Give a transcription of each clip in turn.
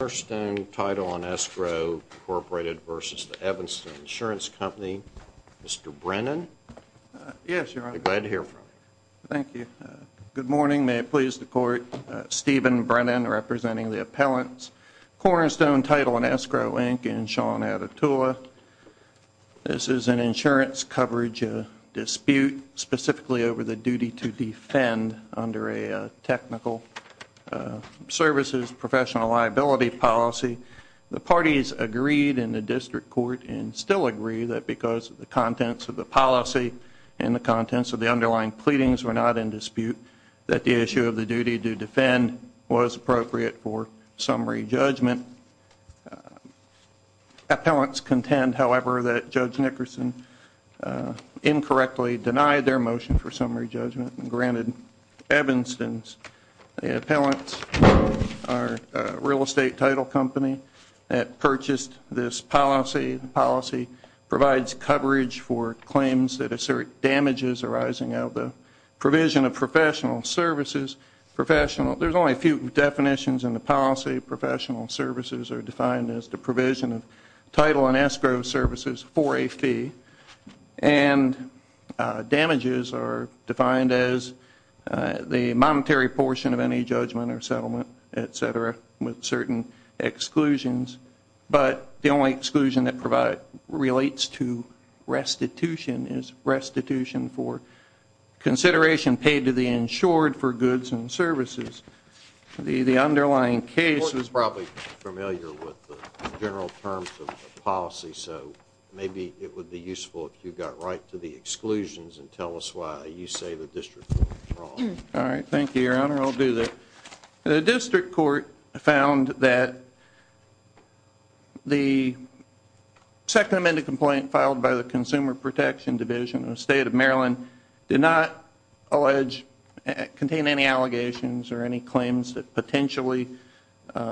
Cornerstone Title & Escrow, Incorporated v. Evanston Insurance Company. Mr. Brennan? Yes, Your Honor. I'm glad to hear from you. Thank you. Good morning. May it please the Court, Stephen Brennan representing the appellants, Cornerstone Title & Escrow, Inc. and Sean Attatua. This is an insurance coverage dispute specifically over the duty to defend under a technical services professional liability policy. The parties agreed in the district court and still agree that because of the contents of the policy and the contents of the underlying pleadings were not in dispute, that the issue of the duty to defend was appropriate for summary judgment. Appellants contend, however, that Judge Nickerson incorrectly denied their motion for summary judgment and granted Evanston's appellants from our real estate title company that purchased this policy. The policy provides coverage for claims that assert damages arising out of the provision of professional services. There's only a few definitions in the policy. Professional services are defined as the provision of title and escrow services for a fee, and damages are defined as the monetary portion of any judgment or settlement, et cetera, with certain exclusions, but the only exclusion that relates to restitution is restitution for consideration paid to the insured for goods and services. The underlying case is probably familiar with the general terms of the policy, so maybe it would be useful if you got right to the exclusions and tell us why you say the district court was wrong. All right. Thank you, Your Honor. I'll do that. The district court found that the second amended complaint filed by the Consumer Protection Division of the State of Maryland did not allege, contain any allegations or any claims that potentially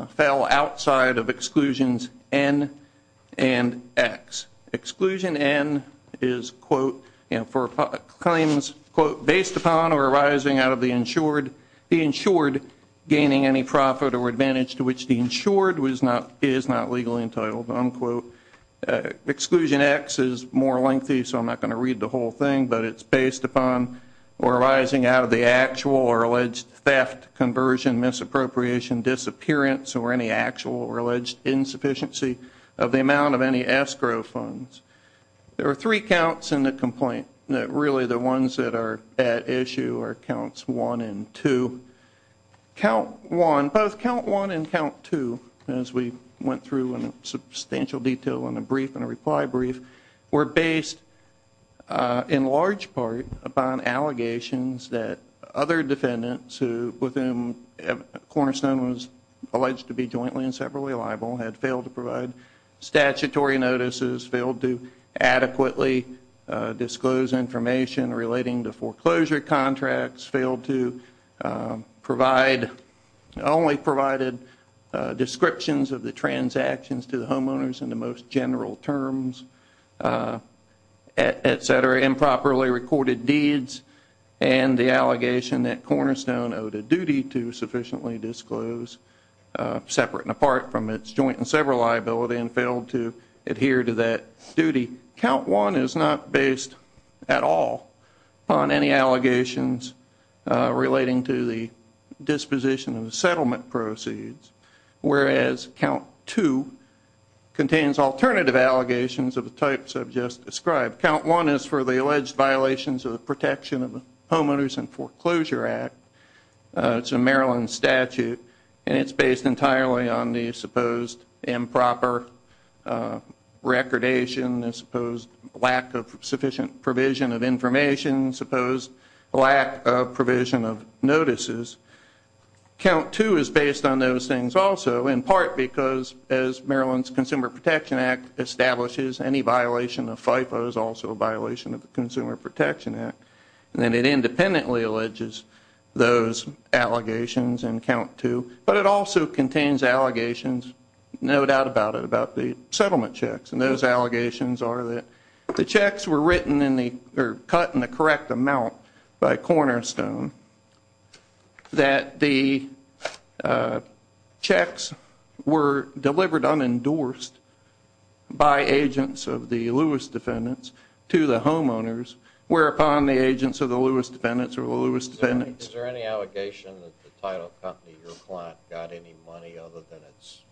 fell outside of exclusions N and X. Exclusion N is, quote, and for claims, quote, based upon or arising out of the insured, the insured gaining any profit or advantage to which the insured was not, is not legally entitled, unquote. Exclusion X is more lengthy, so I'm not going to read the whole thing, but it's based upon or arising out of the actual or alleged theft, conversion, misappropriation, disappearance, or any actual or alleged insufficiency of the amount of any escrow funds. There are three counts in the complaint that really the ones that are at issue are counts one and two. Count one, both count one and count two, as we went through in substantial detail in a brief and a reply brief, were based in large part upon allegations that other defendants with whom Cornerstone was alleged to be jointly and separately liable had failed to provide statutory notices, failed to adequately disclose information relating to foreclosure contracts, failed to provide, only provided descriptions of the transactions to the homeowners in the most general terms, et cetera, improperly recorded deeds, and the allegation that Cornerstone owed a duty to sufficiently disclose, separate and apart from its joint and several liability, and failed to adhere to that duty. Count one is not based at all on any allegations relating to the disposition of the settlement proceeds, whereas count two contains alternative allegations of the types I've just described. Count one is for the alleged violations of the Protection of Homeowners and Foreclosure Act. It's a Maryland statute, and it's based entirely on the supposed improper recordation, the supposed lack of sufficient provision of information, supposed lack of provision of notices. Count two is based on those things also, in part because as Maryland's Consumer Protection Act establishes, any violation of FIFO is also a violation of the Consumer Protection Act. And it independently alleges those allegations in count two. But it also contains allegations, no doubt about it, about the settlement checks. And those allegations are that the checks were written in the, or cut in the correct amount by Cornerstone, that the checks were delivered unendorsed by agents of the Lewis defendants to the homeowners, whereupon the agents of the Lewis defendants are the Lewis defendants. Is there any allegation that the title company, your client, got any money other than its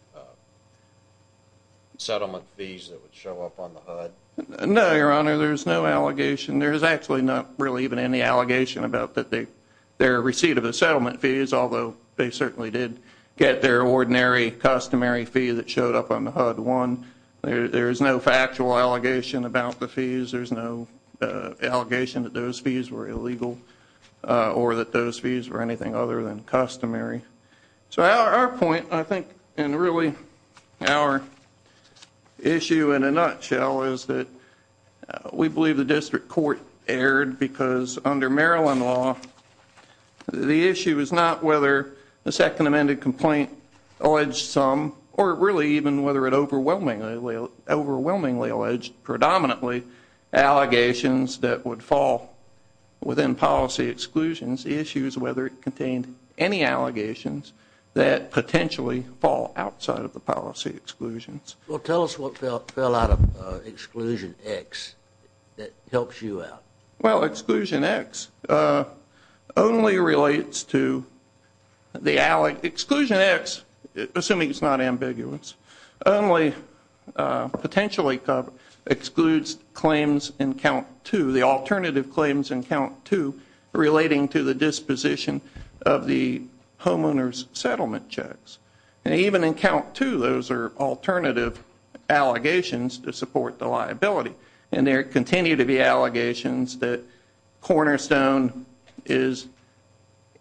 settlement fees that would show up on the HUD? No, Your Honor, there's no allegation. There's actually not really even any allegation about their receipt of the settlement fees, although they certainly did get their ordinary customary fee that showed up on the HUD. One, there's no factual allegation about the fees. There's no allegation that those fees were illegal or that those fees were anything other than customary. So our point, I think, and really our issue in a nutshell, is that we believe the district court erred because under Maryland law, the issue is not whether the second amended complaint alleged some, or really even whether it overwhelmingly alleged predominantly, allegations that would fall within policy exclusions. The issue is whether it contained any allegations that potentially fall outside of the policy exclusions. Well, tell us what fell out of exclusion X that helps you out. Well, exclusion X only relates to the, exclusion X, assuming it's not ambiguous, only potentially excludes claims in count two, the alternative claims in count two relating to the disposition of the homeowner's settlement checks. And even in count two, those are alternative allegations to support the liability. And there continue to be allegations that Cornerstone is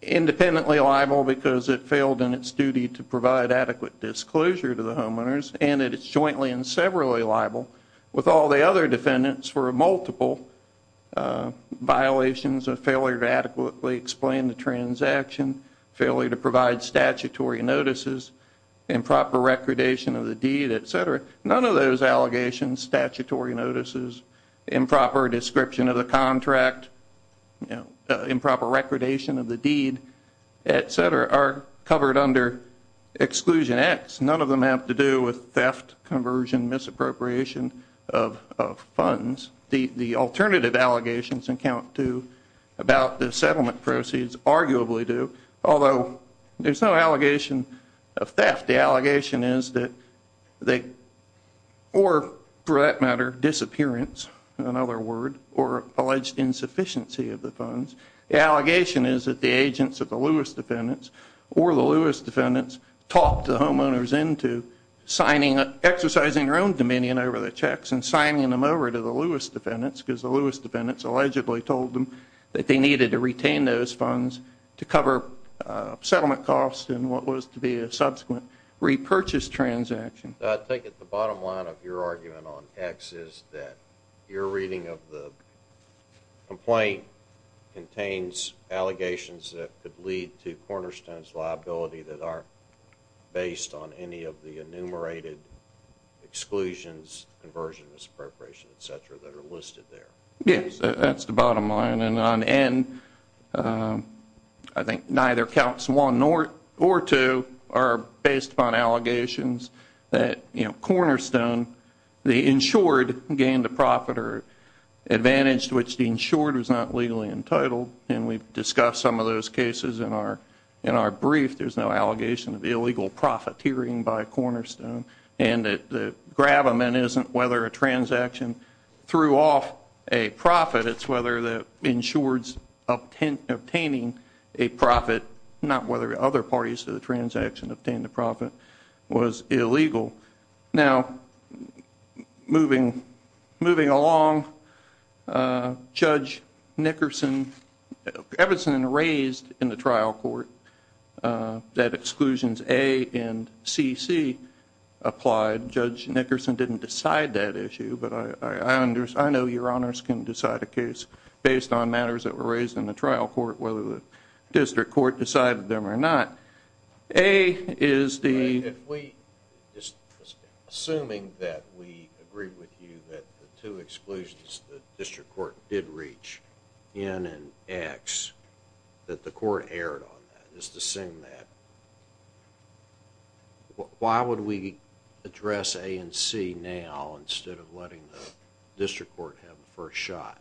independently liable because it failed in its duty to provide adequate disclosure to the homeowners, and it is jointly and severally liable with all the other defendants for multiple violations of failure to adequately explain the transaction, failure to provide statutory notices, improper recordation of the deed, et cetera. None of those allegations, statutory notices, improper description of the contract, improper recordation of the deed, et cetera, are covered under exclusion X. None of them have to do with theft, conversion, misappropriation of funds. The alternative allegations in count two about the settlement proceeds arguably do, although there's no allegation of theft. The allegation is that they, or for that matter, disappearance, another word, or alleged insufficiency of the funds. The allegation is that the agents of the Lewis defendants or the Lewis defendants talked the homeowners into signing, exercising their own dominion over the checks and signing them over to the Lewis defendants because the Lewis defendants allegedly told them that they needed to retain those funds to cover settlement costs and what was to be a subsequent repurchase transaction. I take it the bottom line of your argument on X is that your reading of the complaint contains allegations that could lead to Cornerstone's liability that aren't based on any of the enumerated exclusions, conversions, misappropriation, et cetera, that are listed there. Yes, that's the bottom line. And on N, I think neither counts one or two are based upon allegations that Cornerstone, the insured gained a profit or advantage to which the insured was not legally entitled. And we've discussed some of those cases in our brief. There's no allegation of illegal profiteering by Cornerstone. And the gravamen isn't whether a transaction threw off a profit. It's whether the insured's obtaining a profit, not whether other parties to the transaction obtained the profit, was illegal. Now, moving along, Judge Nickerson, Everson raised in the trial court that exclusions A and CC applied. Judge Nickerson didn't decide that issue, but I know your honors can decide a case based on matters that were raised in the trial court, whether the district court decided them or not. A is the- Assuming that we agree with you that the two exclusions the district court did reach, N and X, that the court erred on that, just assume that, why would we address A and C now instead of letting the district court have the first shot?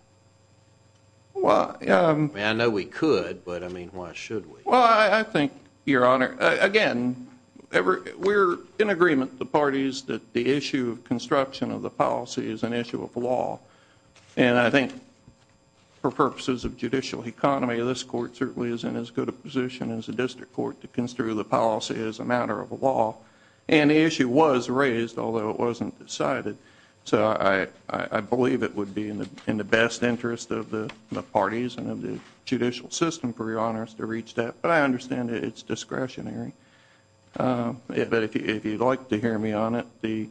I mean, I know we could, but I mean, why should we? Well, I think, your honor, again, we're in agreement with the parties that the issue of construction of the policy is an issue of law. And I think for purposes of judicial economy, this court certainly is in as good a position as the district court to construe the policy as a matter of law. And the issue was raised, although it wasn't decided. So I believe it would be in the best interest of the parties and of the judicial system for your honors to reach that. But I understand it's discretionary. But if you'd like to hear me on it,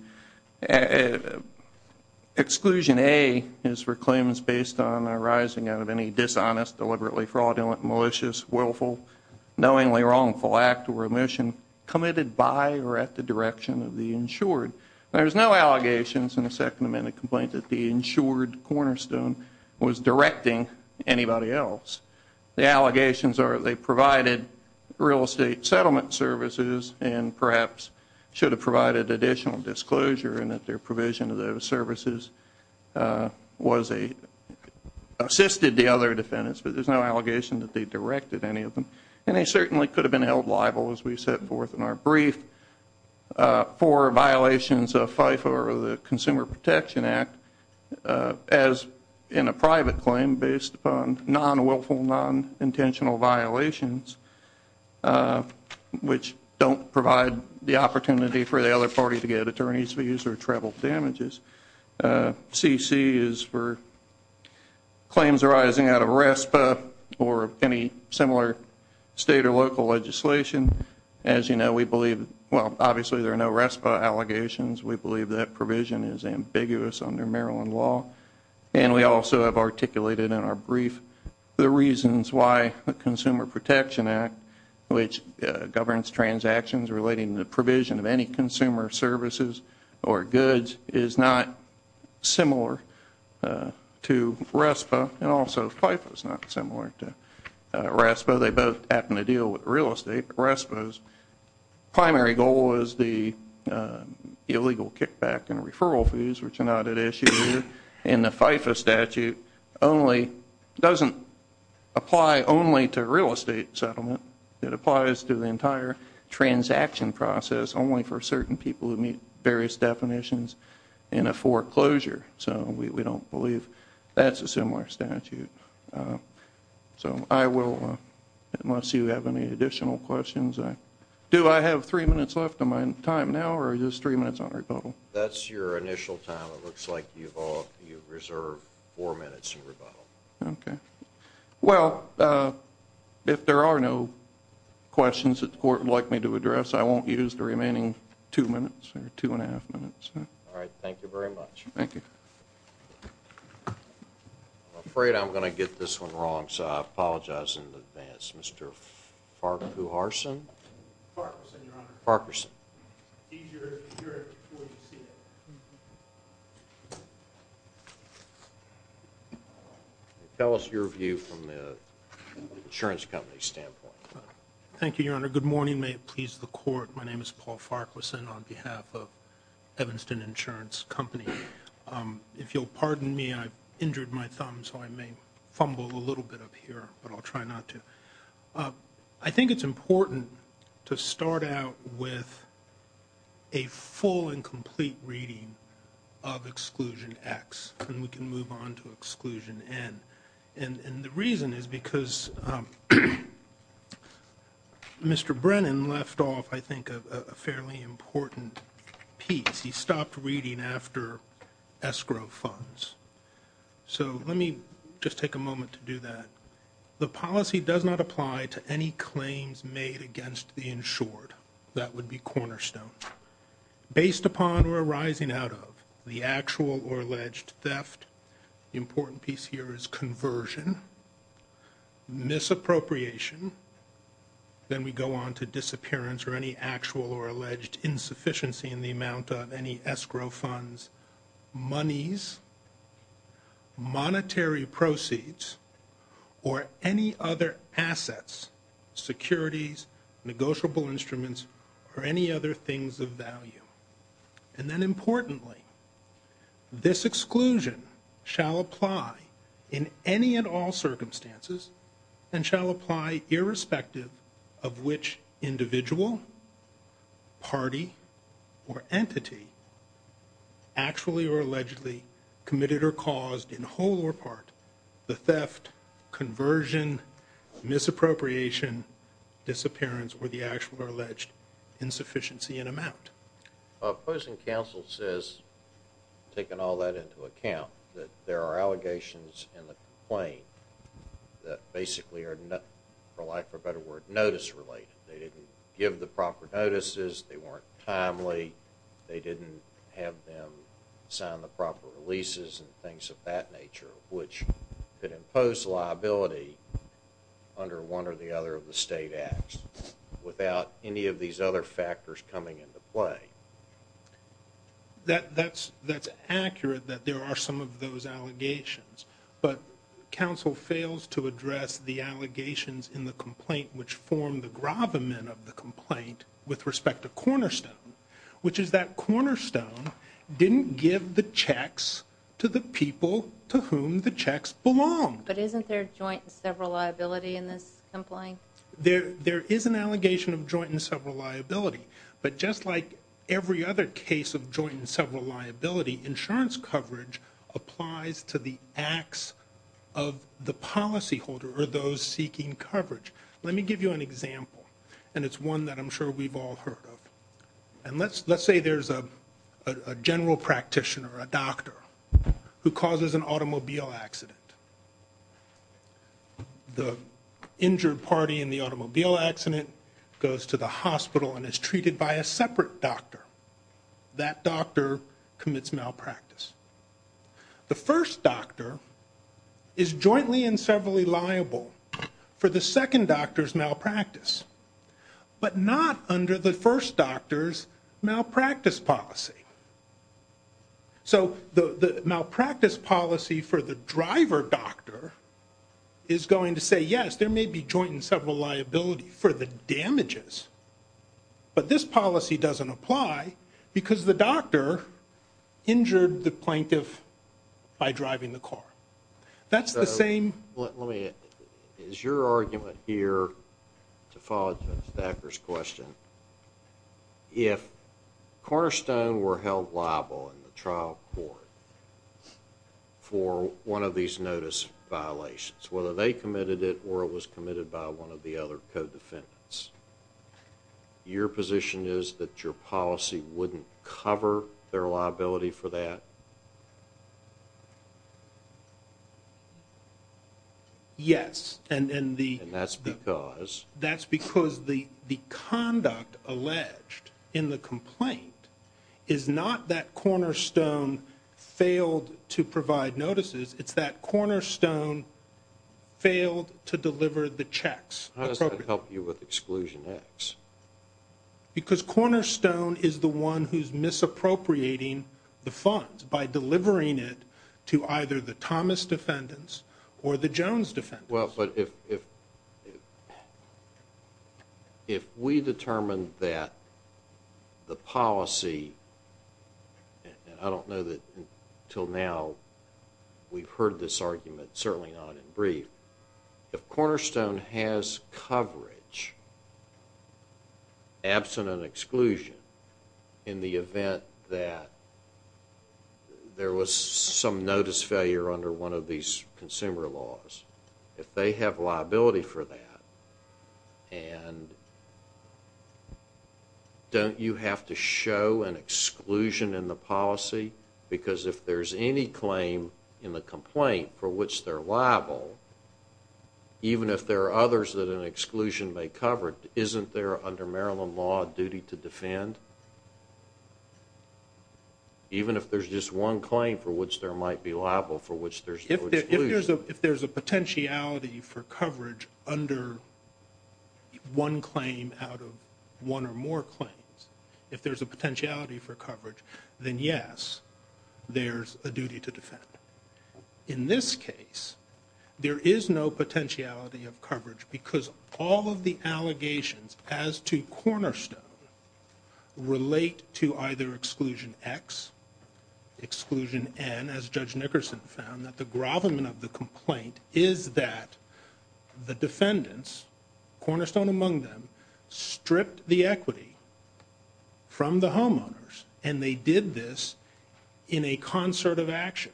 exclusion A is for claims based on arising out of any dishonest, deliberately fraudulent, malicious, willful, knowingly wrongful act or omission committed by or at the direction of the insured. There's no allegations in the Second Amendment complaint that the insured cornerstone was directing anybody else. The allegations are they provided real estate settlement services and perhaps should have provided additional disclosure and that their provision of those services assisted the other defendants. But there's no allegation that they directed any of them. And they certainly could have been held liable, as we set forth in our brief, for violations of FIFO or the Consumer Protection Act as in a private claim based upon non-willful, non-intentional violations, which don't provide the opportunity for the other party to get attorney's fees or travel damages. CC is for claims arising out of RESPA or any similar state or local legislation. As you know, we believe, well, obviously there are no RESPA allegations. We believe that provision is ambiguous under Maryland law. And we also have articulated in our brief the reasons why the Consumer Protection Act, which governs transactions relating to the provision of any consumer services or goods, is not similar to RESPA and also FIFO is not similar to RESPA. Although they both happen to deal with real estate, RESPA's primary goal is the illegal kickback and referral fees, which are not at issue here. And the FIFO statute doesn't apply only to real estate settlement. It applies to the entire transaction process, only for certain people who meet various definitions in a foreclosure. So we don't believe that's a similar statute. So I will, unless you have any additional questions, do I have three minutes left of my time now or is this three minutes on rebuttal? That's your initial time. It looks like you've reserved four minutes on rebuttal. Okay. Well, if there are no questions that the court would like me to address, I won't use the remaining two minutes or two and a half minutes. All right. Thank you very much. Thank you. I'm afraid I'm going to get this one wrong, so I apologize in advance. Mr. Farquharson? Farquharson, Your Honor. Farquharson. Tell us your view from the insurance company's standpoint. Thank you, Your Honor. Good morning. May it please the court. My name is Paul Farquharson on behalf of Evanston Insurance Company. If you'll pardon me, I've injured my thumb, so I may fumble a little bit up here, but I'll try not to. I think it's important to start out with a full and complete reading of Exclusion X, and we can move on to Exclusion N. And the reason is because Mr. Brennan left off, I think, a fairly important piece. He stopped reading after escrow funds. So let me just take a moment to do that. The policy does not apply to any claims made against the insured. That would be cornerstone. Based upon or arising out of the actual or alleged theft, the important piece here is conversion, misappropriation, then we go on to disappearance or any actual or alleged insufficiency in the amount of any escrow funds, monies, monetary proceeds, or any other assets, securities, negotiable instruments, or any other things of value. And then importantly, this exclusion shall apply in any and all circumstances and shall apply irrespective of which individual, party, or entity actually or allegedly committed or caused in whole or part the theft, conversion, misappropriation, disappearance, or the actual or alleged insufficiency in amount. Opposing counsel says, taking all that into account, that there are allegations in the complaint that basically are, for lack of a better word, notice-related. They didn't give the proper notices. They weren't timely. They didn't have them sign the proper releases and things of that nature, which could impose liability under one or the other of the state acts without any of these other factors coming into play. That's accurate that there are some of those allegations, but counsel fails to address the allegations in the complaint which form the gravamen of the complaint with respect to Cornerstone, which is that Cornerstone didn't give the checks to the people to whom the checks belonged. But isn't there joint and several liability in this complaint? There is an allegation of joint and several liability, but just like every other case of joint and several liability, insurance coverage applies to the acts of the policyholder or those seeking coverage. Let me give you an example, and it's one that I'm sure we've all heard of. Let's say there's a general practitioner, a doctor, who causes an automobile accident. The injured party in the automobile accident goes to the hospital and is treated by a separate doctor. That doctor commits malpractice. The first doctor is jointly and severally liable for the second doctor's malpractice, but not under the first doctor's malpractice policy. So the malpractice policy for the driver doctor is going to say, yes, there may be joint and several liability for the damages, but this policy doesn't apply because the doctor injured the plaintiff by driving the car. That's the same... Let me, is your argument here to follow up to Mr. Thacker's question? If Cornerstone were held liable in the trial court for one of these notice violations, whether they committed it or it was committed by one of the other co-defendants, your position is that your policy wouldn't cover their liability for that? Yes, and the... And that's because... That's because the conduct alleged in the complaint is not that Cornerstone failed to provide notices, it's that Cornerstone failed to deliver the checks. How does that help you with Exclusion X? Because Cornerstone is the one who's misappropriating the funds by delivering it to either the Thomas defendants or the Jones defendants. Well, but if we determined that the policy, and I don't know that until now we've heard this argument, certainly not in brief, if Cornerstone has coverage absent an exclusion in the event that there was some notice failure under one of these consumer laws, if they have liability for that, and don't you have to show an exclusion in the policy? Because if there's any claim in the complaint for which they're liable, even if there are others that an exclusion may cover, isn't there under Maryland law a duty to defend? Even if there's just one claim for which there might be liable, for which there's no exclusion. If there's a potentiality for coverage under one claim out of one or more claims, if there's a potentiality for coverage, then yes, there's a duty to defend. In this case, there is no potentiality of coverage because all of the allegations as to Cornerstone relate to either Exclusion X, Exclusion N, as Judge Nickerson found, that the grovelment of the complaint is that the defendants, Cornerstone among them, stripped the equity from the homeowners, and they did this in a concert of action.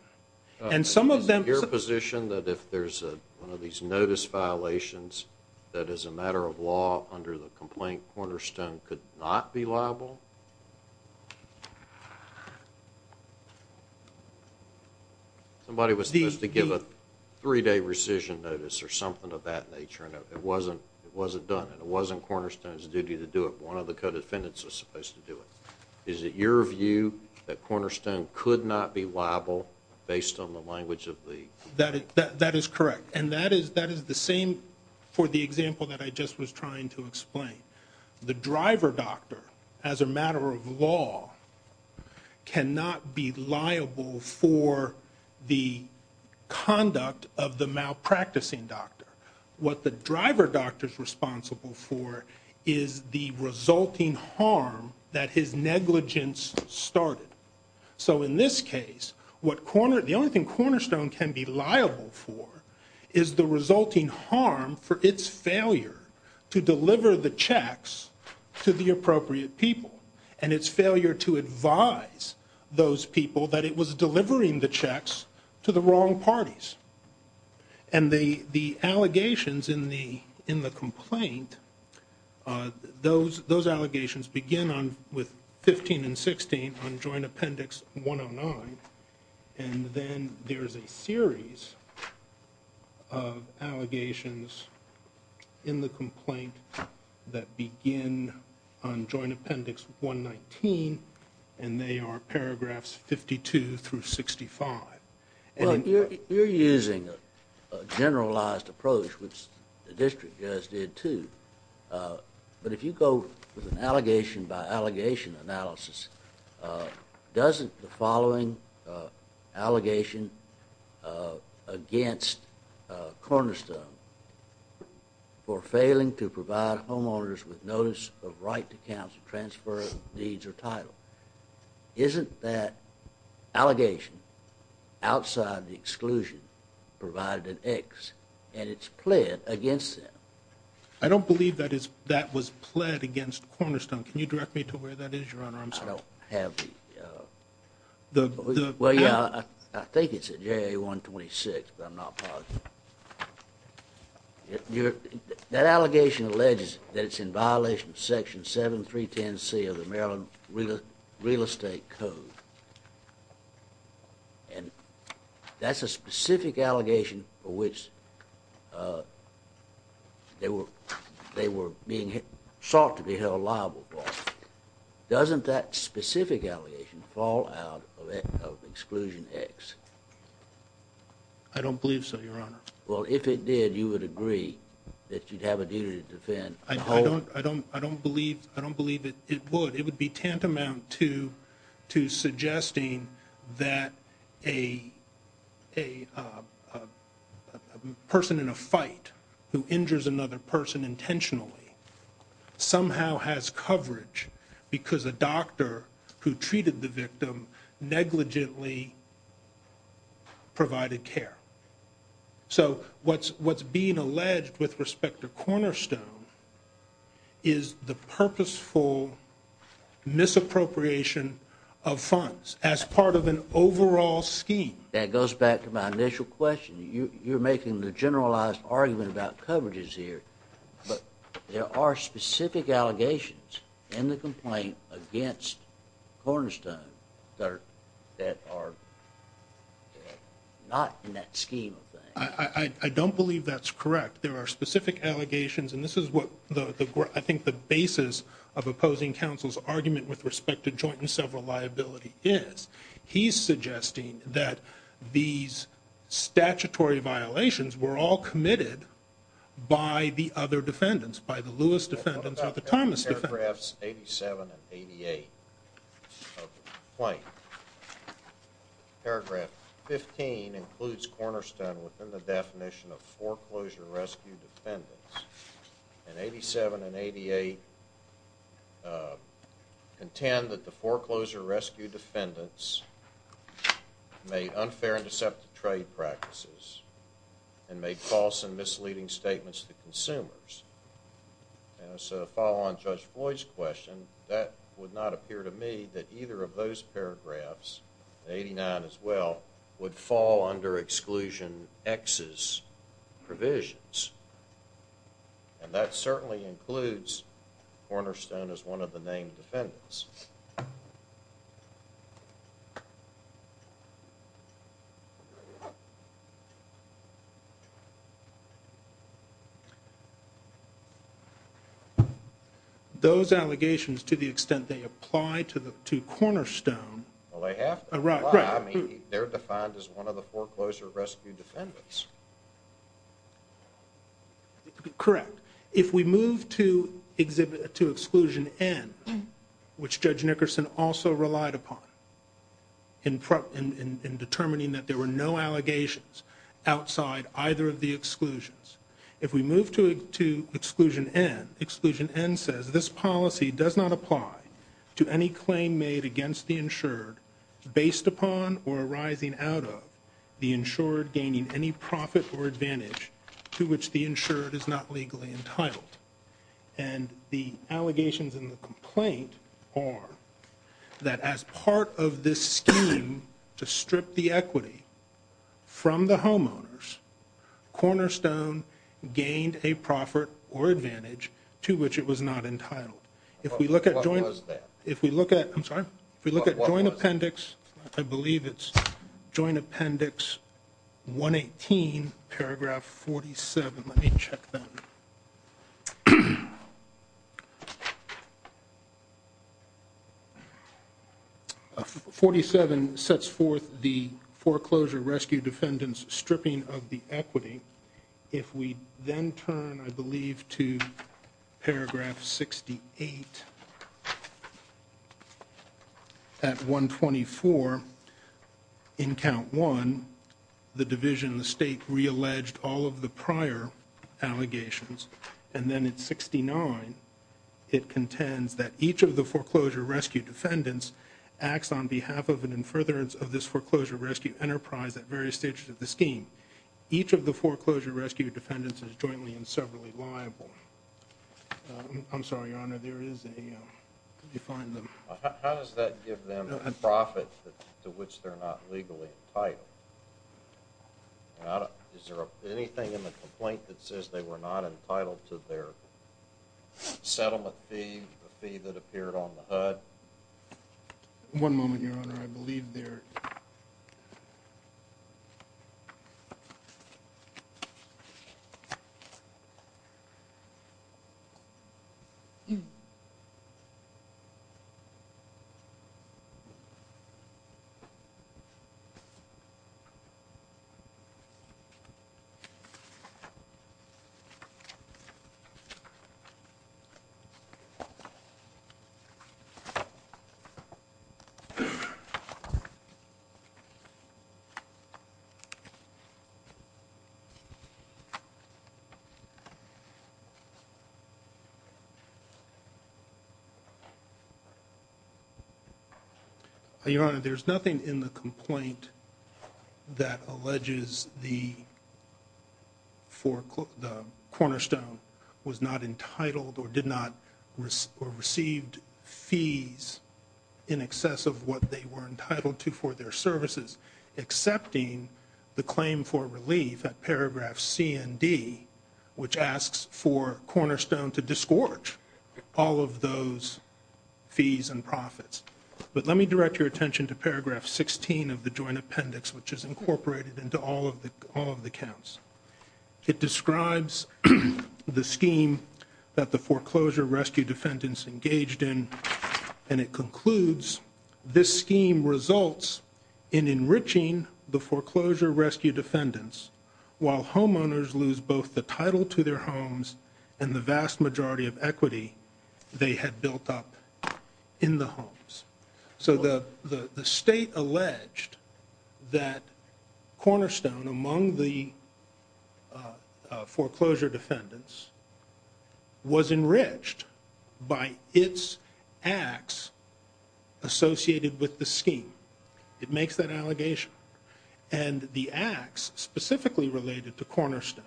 Is it your position that if there's one of these notice violations that as a matter of law under the complaint, Cornerstone could not be liable? Somebody was supposed to give a three-day rescission notice or something of that nature, and it wasn't done, and it wasn't Cornerstone's duty to do it. One of the co-defendants was supposed to do it. Is it your view that Cornerstone could not be liable based on the language of the? That is correct, and that is the same for the example that I just was trying to explain. The driver doctor, as a matter of law, cannot be liable for the conduct of the malpracticing doctor. What the driver doctor is responsible for is the resulting harm that his negligence started. So in this case, the only thing Cornerstone can be liable for is the resulting harm for its failure to deliver the checks to the appropriate people, and its failure to advise those people that it was delivering the checks to the wrong parties. And the allegations in the complaint, those allegations begin with 15 and 16 on Joint Appendix 109, and then there is a series of allegations in the complaint that begin on Joint Appendix 119, and they are paragraphs 52 through 65. Well, you are using a generalized approach, which the district just did too, but if you go with an allegation by allegation analysis, doesn't the following allegation against Cornerstone for failing to provide homeowners with notice of right to counsel transfer of needs or title, isn't that allegation outside the exclusion provided in X, and it's pled against them? I don't believe that was pled against Cornerstone. Can you direct me to where that is, Your Honor? I'm sorry. I don't have the… Well, yeah, I think it's at JA-126, but I'm not positive. That allegation alleges that it's in violation of Section 7310C of the Maryland Real Estate Code, and that's a specific allegation for which they were being sought to be held liable for. Doesn't that specific allegation fall out of exclusion X? I don't believe so, Your Honor. Well, if it did, you would agree that you'd have a duty to defend the home? I don't believe it would. It would be tantamount to suggesting that a person in a fight who injures another person intentionally somehow has coverage because a doctor who treated the victim negligently provided care. So what's being alleged with respect to Cornerstone is the purposeful misappropriation of funds as part of an overall scheme. That goes back to my initial question. You're making the generalized argument about coverages here, but there are specific allegations in the complaint against Cornerstone that are not in that scheme of things. I don't believe that's correct. There are specific allegations, and this is what I think the basis of opposing counsel's argument with respect to joint and several liability is. He's suggesting that these statutory violations were all committed by the other defendants, by the Lewis defendants or the Thomas defendants. What about paragraphs 87 and 88 of the complaint? Paragraph 15 includes Cornerstone within the definition of foreclosure rescue defendants, and 87 and 88 contend that the foreclosure rescue defendants made unfair and deceptive trade practices and made false and misleading statements to consumers. As a follow-on to Judge Floyd's question, that would not appear to me that either of those paragraphs, 89 as well, would fall under Exclusion X's provisions, and that certainly includes Cornerstone as one of the named defendants. Those allegations, to the extent they apply to Cornerstone they're defined as one of the foreclosure rescue defendants. Correct. If we move to Exclusion N, which Judge Nickerson also relied upon in determining that there were no allegations outside either of the exclusions, if we move to Exclusion N, Exclusion N says this policy does not apply to any claim made against the insured based upon or arising out of the insured gaining any profit or advantage to which the insured is not legally entitled. And the allegations in the complaint are that as part of this scheme to strip the equity from the homeowners, Cornerstone gained a profit or advantage to which it was not entitled. What was that? If we look at Joint Appendix, I believe it's Joint Appendix 118, paragraph 47. Let me check that. 47 sets forth the foreclosure rescue defendant's stripping of the equity. If we then turn, I believe, to paragraph 68, at 124, in Count 1, the Division of the State realleged all of the prior allegations, and then at 69 it contends that each of the foreclosure rescue defendants acts on behalf of and in furtherance of this foreclosure rescue enterprise at various stages of the scheme. Each of the foreclosure rescue defendants is jointly and severally liable. I'm sorry, Your Honor, there is a... Let me find the... How does that give them a profit to which they're not legally entitled? Is there anything in the complaint that says they were not entitled to their settlement fee, the fee that appeared on the HUD? One moment, Your Honor. I believe they're... Your Honor, there's nothing in the complaint that alleges the cornerstone was not entitled or received fees in excess of what they were entitled to for their services, excepting the claim for relief at paragraph C and D, which asks for cornerstone to disgorge all of those fees and profits. But let me direct your attention to paragraph 16 of the joint appendix, which is incorporated into all of the counts. It describes the scheme that the foreclosure rescue defendants engaged in, and it concludes, this scheme results in enriching the foreclosure rescue defendants while homeowners lose both the title to their homes and the vast majority of equity they had built up in the homes. So the state alleged that cornerstone among the foreclosure defendants was enriched by its acts associated with the scheme. It makes that allegation. And the acts specifically related to cornerstone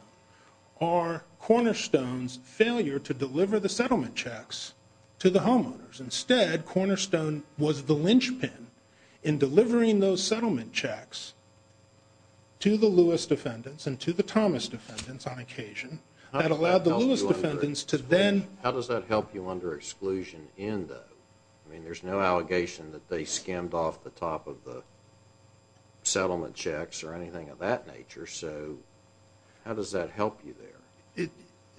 are cornerstone's failure to deliver the settlement checks to the homeowners. Instead, cornerstone was the linchpin in delivering those settlement checks to the Lewis defendants and to the Thomas defendants on occasion that allowed the Lewis defendants to then... How does that help you under exclusion in the... I mean, there's no allegation that they skimmed off the top of the settlement checks or anything of that nature. So how does that help you there?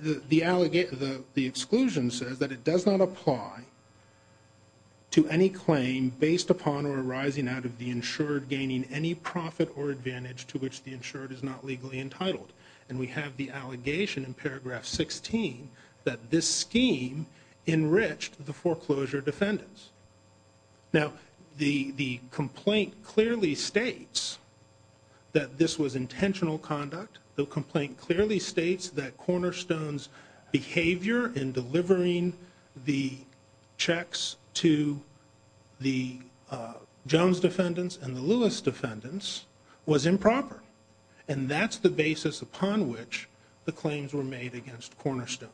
The exclusion says that it does not apply to any claim based upon or arising out of the insured gaining any profit or advantage to which the insured is not legally entitled. And we have the allegation in paragraph 16 that this scheme enriched the foreclosure defendants. Now, the complaint clearly states that this was intentional conduct. The complaint clearly states that cornerstone's behavior in delivering the checks to the Jones defendants and the Lewis defendants was improper. And that's the basis upon which the claims were made against cornerstone.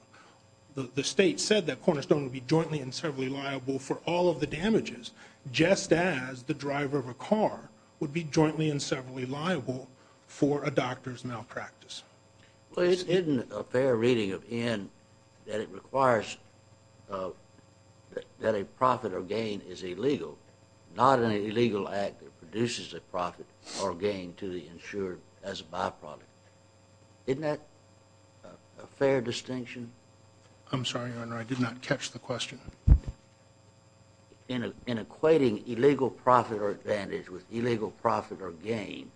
The state said that cornerstone would be jointly and severally liable for all of the damages, just as the driver of a car would be jointly and severally liable for a doctor's malpractice. Well, isn't a fair reading of N that it requires that a profit or gain is illegal, not an illegal act that produces a profit or gain to the insured as a byproduct. Isn't that a fair distinction? I'm sorry, Your Honor. I did not catch the question. In equating illegal profit or advantage with illegal profit or gain,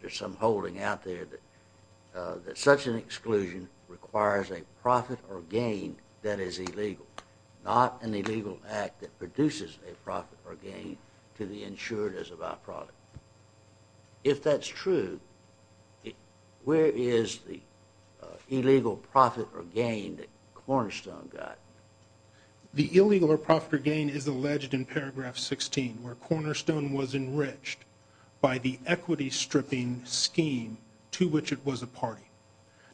there's some holding out there that such an exclusion requires a profit or gain that is illegal, not an illegal act that produces a profit or gain to the insured as a byproduct. If that's true, where is the illegal profit or gain that cornerstone got? The illegal profit or gain is alleged in paragraph 16, where cornerstone was enriched by the equity stripping scheme to which it was a party.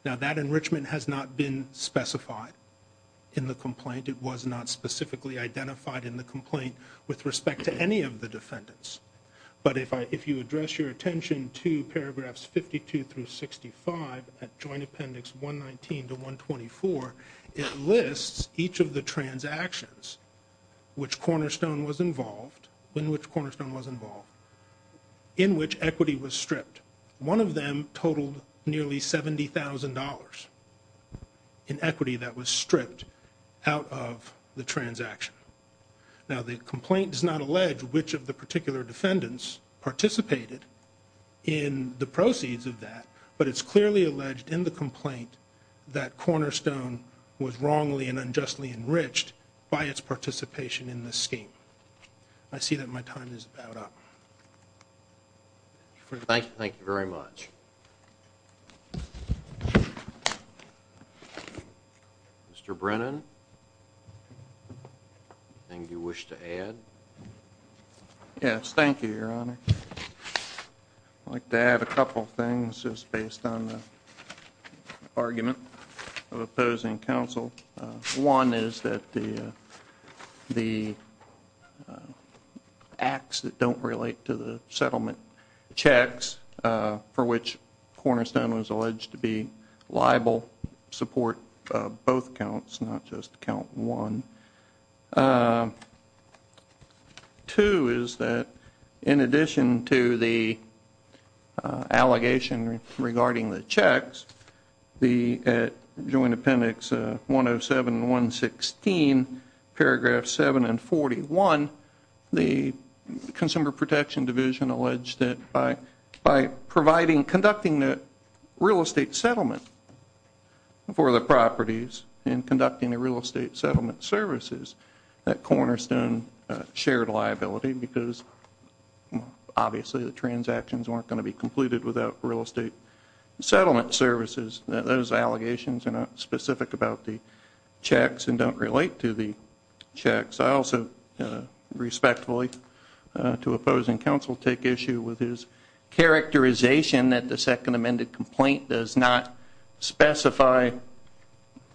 Now, that enrichment has not been specified in the complaint. It was not specifically identified in the complaint with respect to any of the defendants. But if you address your attention to paragraphs 52 through 65 at Joint Appendix 119 to 124, it lists each of the transactions in which cornerstone was involved, in which equity was stripped. One of them totaled nearly $70,000 in equity that was stripped out of the transaction. Now, the complaint does not allege which of the particular defendants participated in the proceeds of that, but it's clearly alleged in the complaint that cornerstone was wrongly and unjustly enriched by its participation in this scheme. I see that my time is about up. Thank you very much. Mr. Brennan, anything you wish to add? Yes, thank you, Your Honor. I'd like to add a couple of things just based on the argument of opposing counsel. One is that the acts that don't relate to the settlement checks for which cornerstone was alleged to be liable support both counts, not just count one. Two is that in addition to the allegation regarding the checks, at Joint Appendix 107 and 116, paragraphs 7 and 41, the Consumer Protection Division alleged that by providing, in conducting the real estate settlement for the properties, in conducting the real estate settlement services, that cornerstone shared liability because obviously the transactions weren't going to be completed without real estate settlement services. Those allegations are not specific about the checks and don't relate to the checks. I also respectfully, to opposing counsel, take issue with his characterization that the second amended complaint does not specify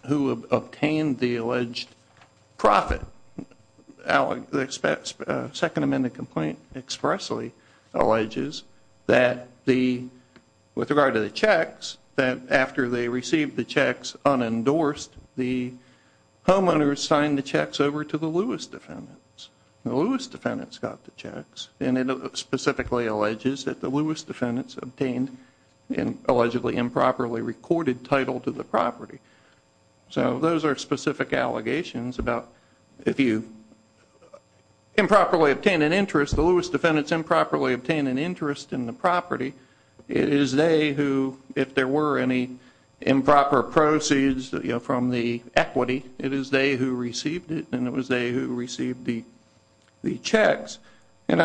who obtained the alleged profit. The second amended complaint expressly alleges that with regard to the checks, that after they received the checks unendorsed, the homeowners signed the checks over to the Lewis defendants. The Lewis defendants got the checks and it specifically alleges that the Lewis defendants obtained an allegedly improperly recorded title to the property. So those are specific allegations about if you improperly obtain an interest, the Lewis defendants improperly obtain an interest in the property, it is they who, if there were any improper proceeds from the equity, it is they who received it and it was they who received the checks. And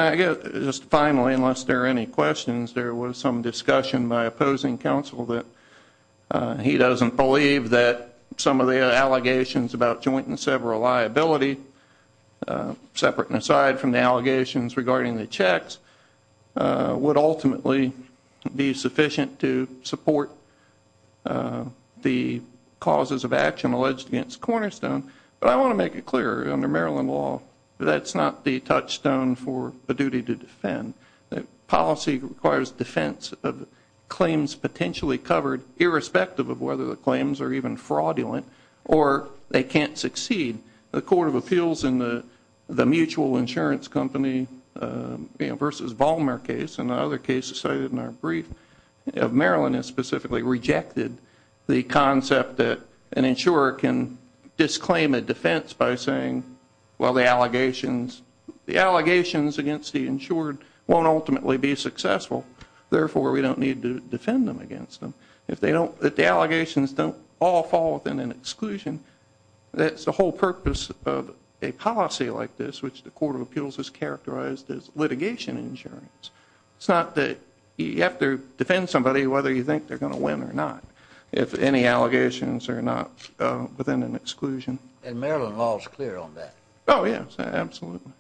just finally, unless there are any questions, there was some discussion by opposing counsel that he doesn't believe that some of the allegations about joint and several liability, separate and aside from the allegations regarding the checks, would ultimately be sufficient to support the causes of action alleged against Cornerstone. But I want to make it clear under Maryland law, that's not the touchstone for a duty to defend. Policy requires defense of claims potentially covered irrespective of whether the claims are even fraudulent or they can't succeed. The Court of Appeals in the Mutual Insurance Company versus Vollmer case and other cases cited in our brief of Maryland has specifically rejected the concept that an insurer can disclaim a defense by saying, well the allegations against the insured won't ultimately be successful, therefore we don't need to defend them against them. If the allegations don't all fall within an exclusion, that's the whole purpose of a policy like this, which the Court of Appeals has characterized as litigation insurance. It's not that you have to defend somebody whether you think they're going to win or not, if any allegations are not within an exclusion. And Maryland law is clear on that. Oh yes, absolutely.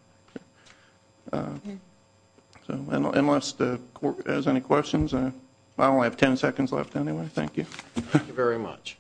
Unless the Court has any questions, I only have ten seconds left anyway. Thank you. Thank you very much.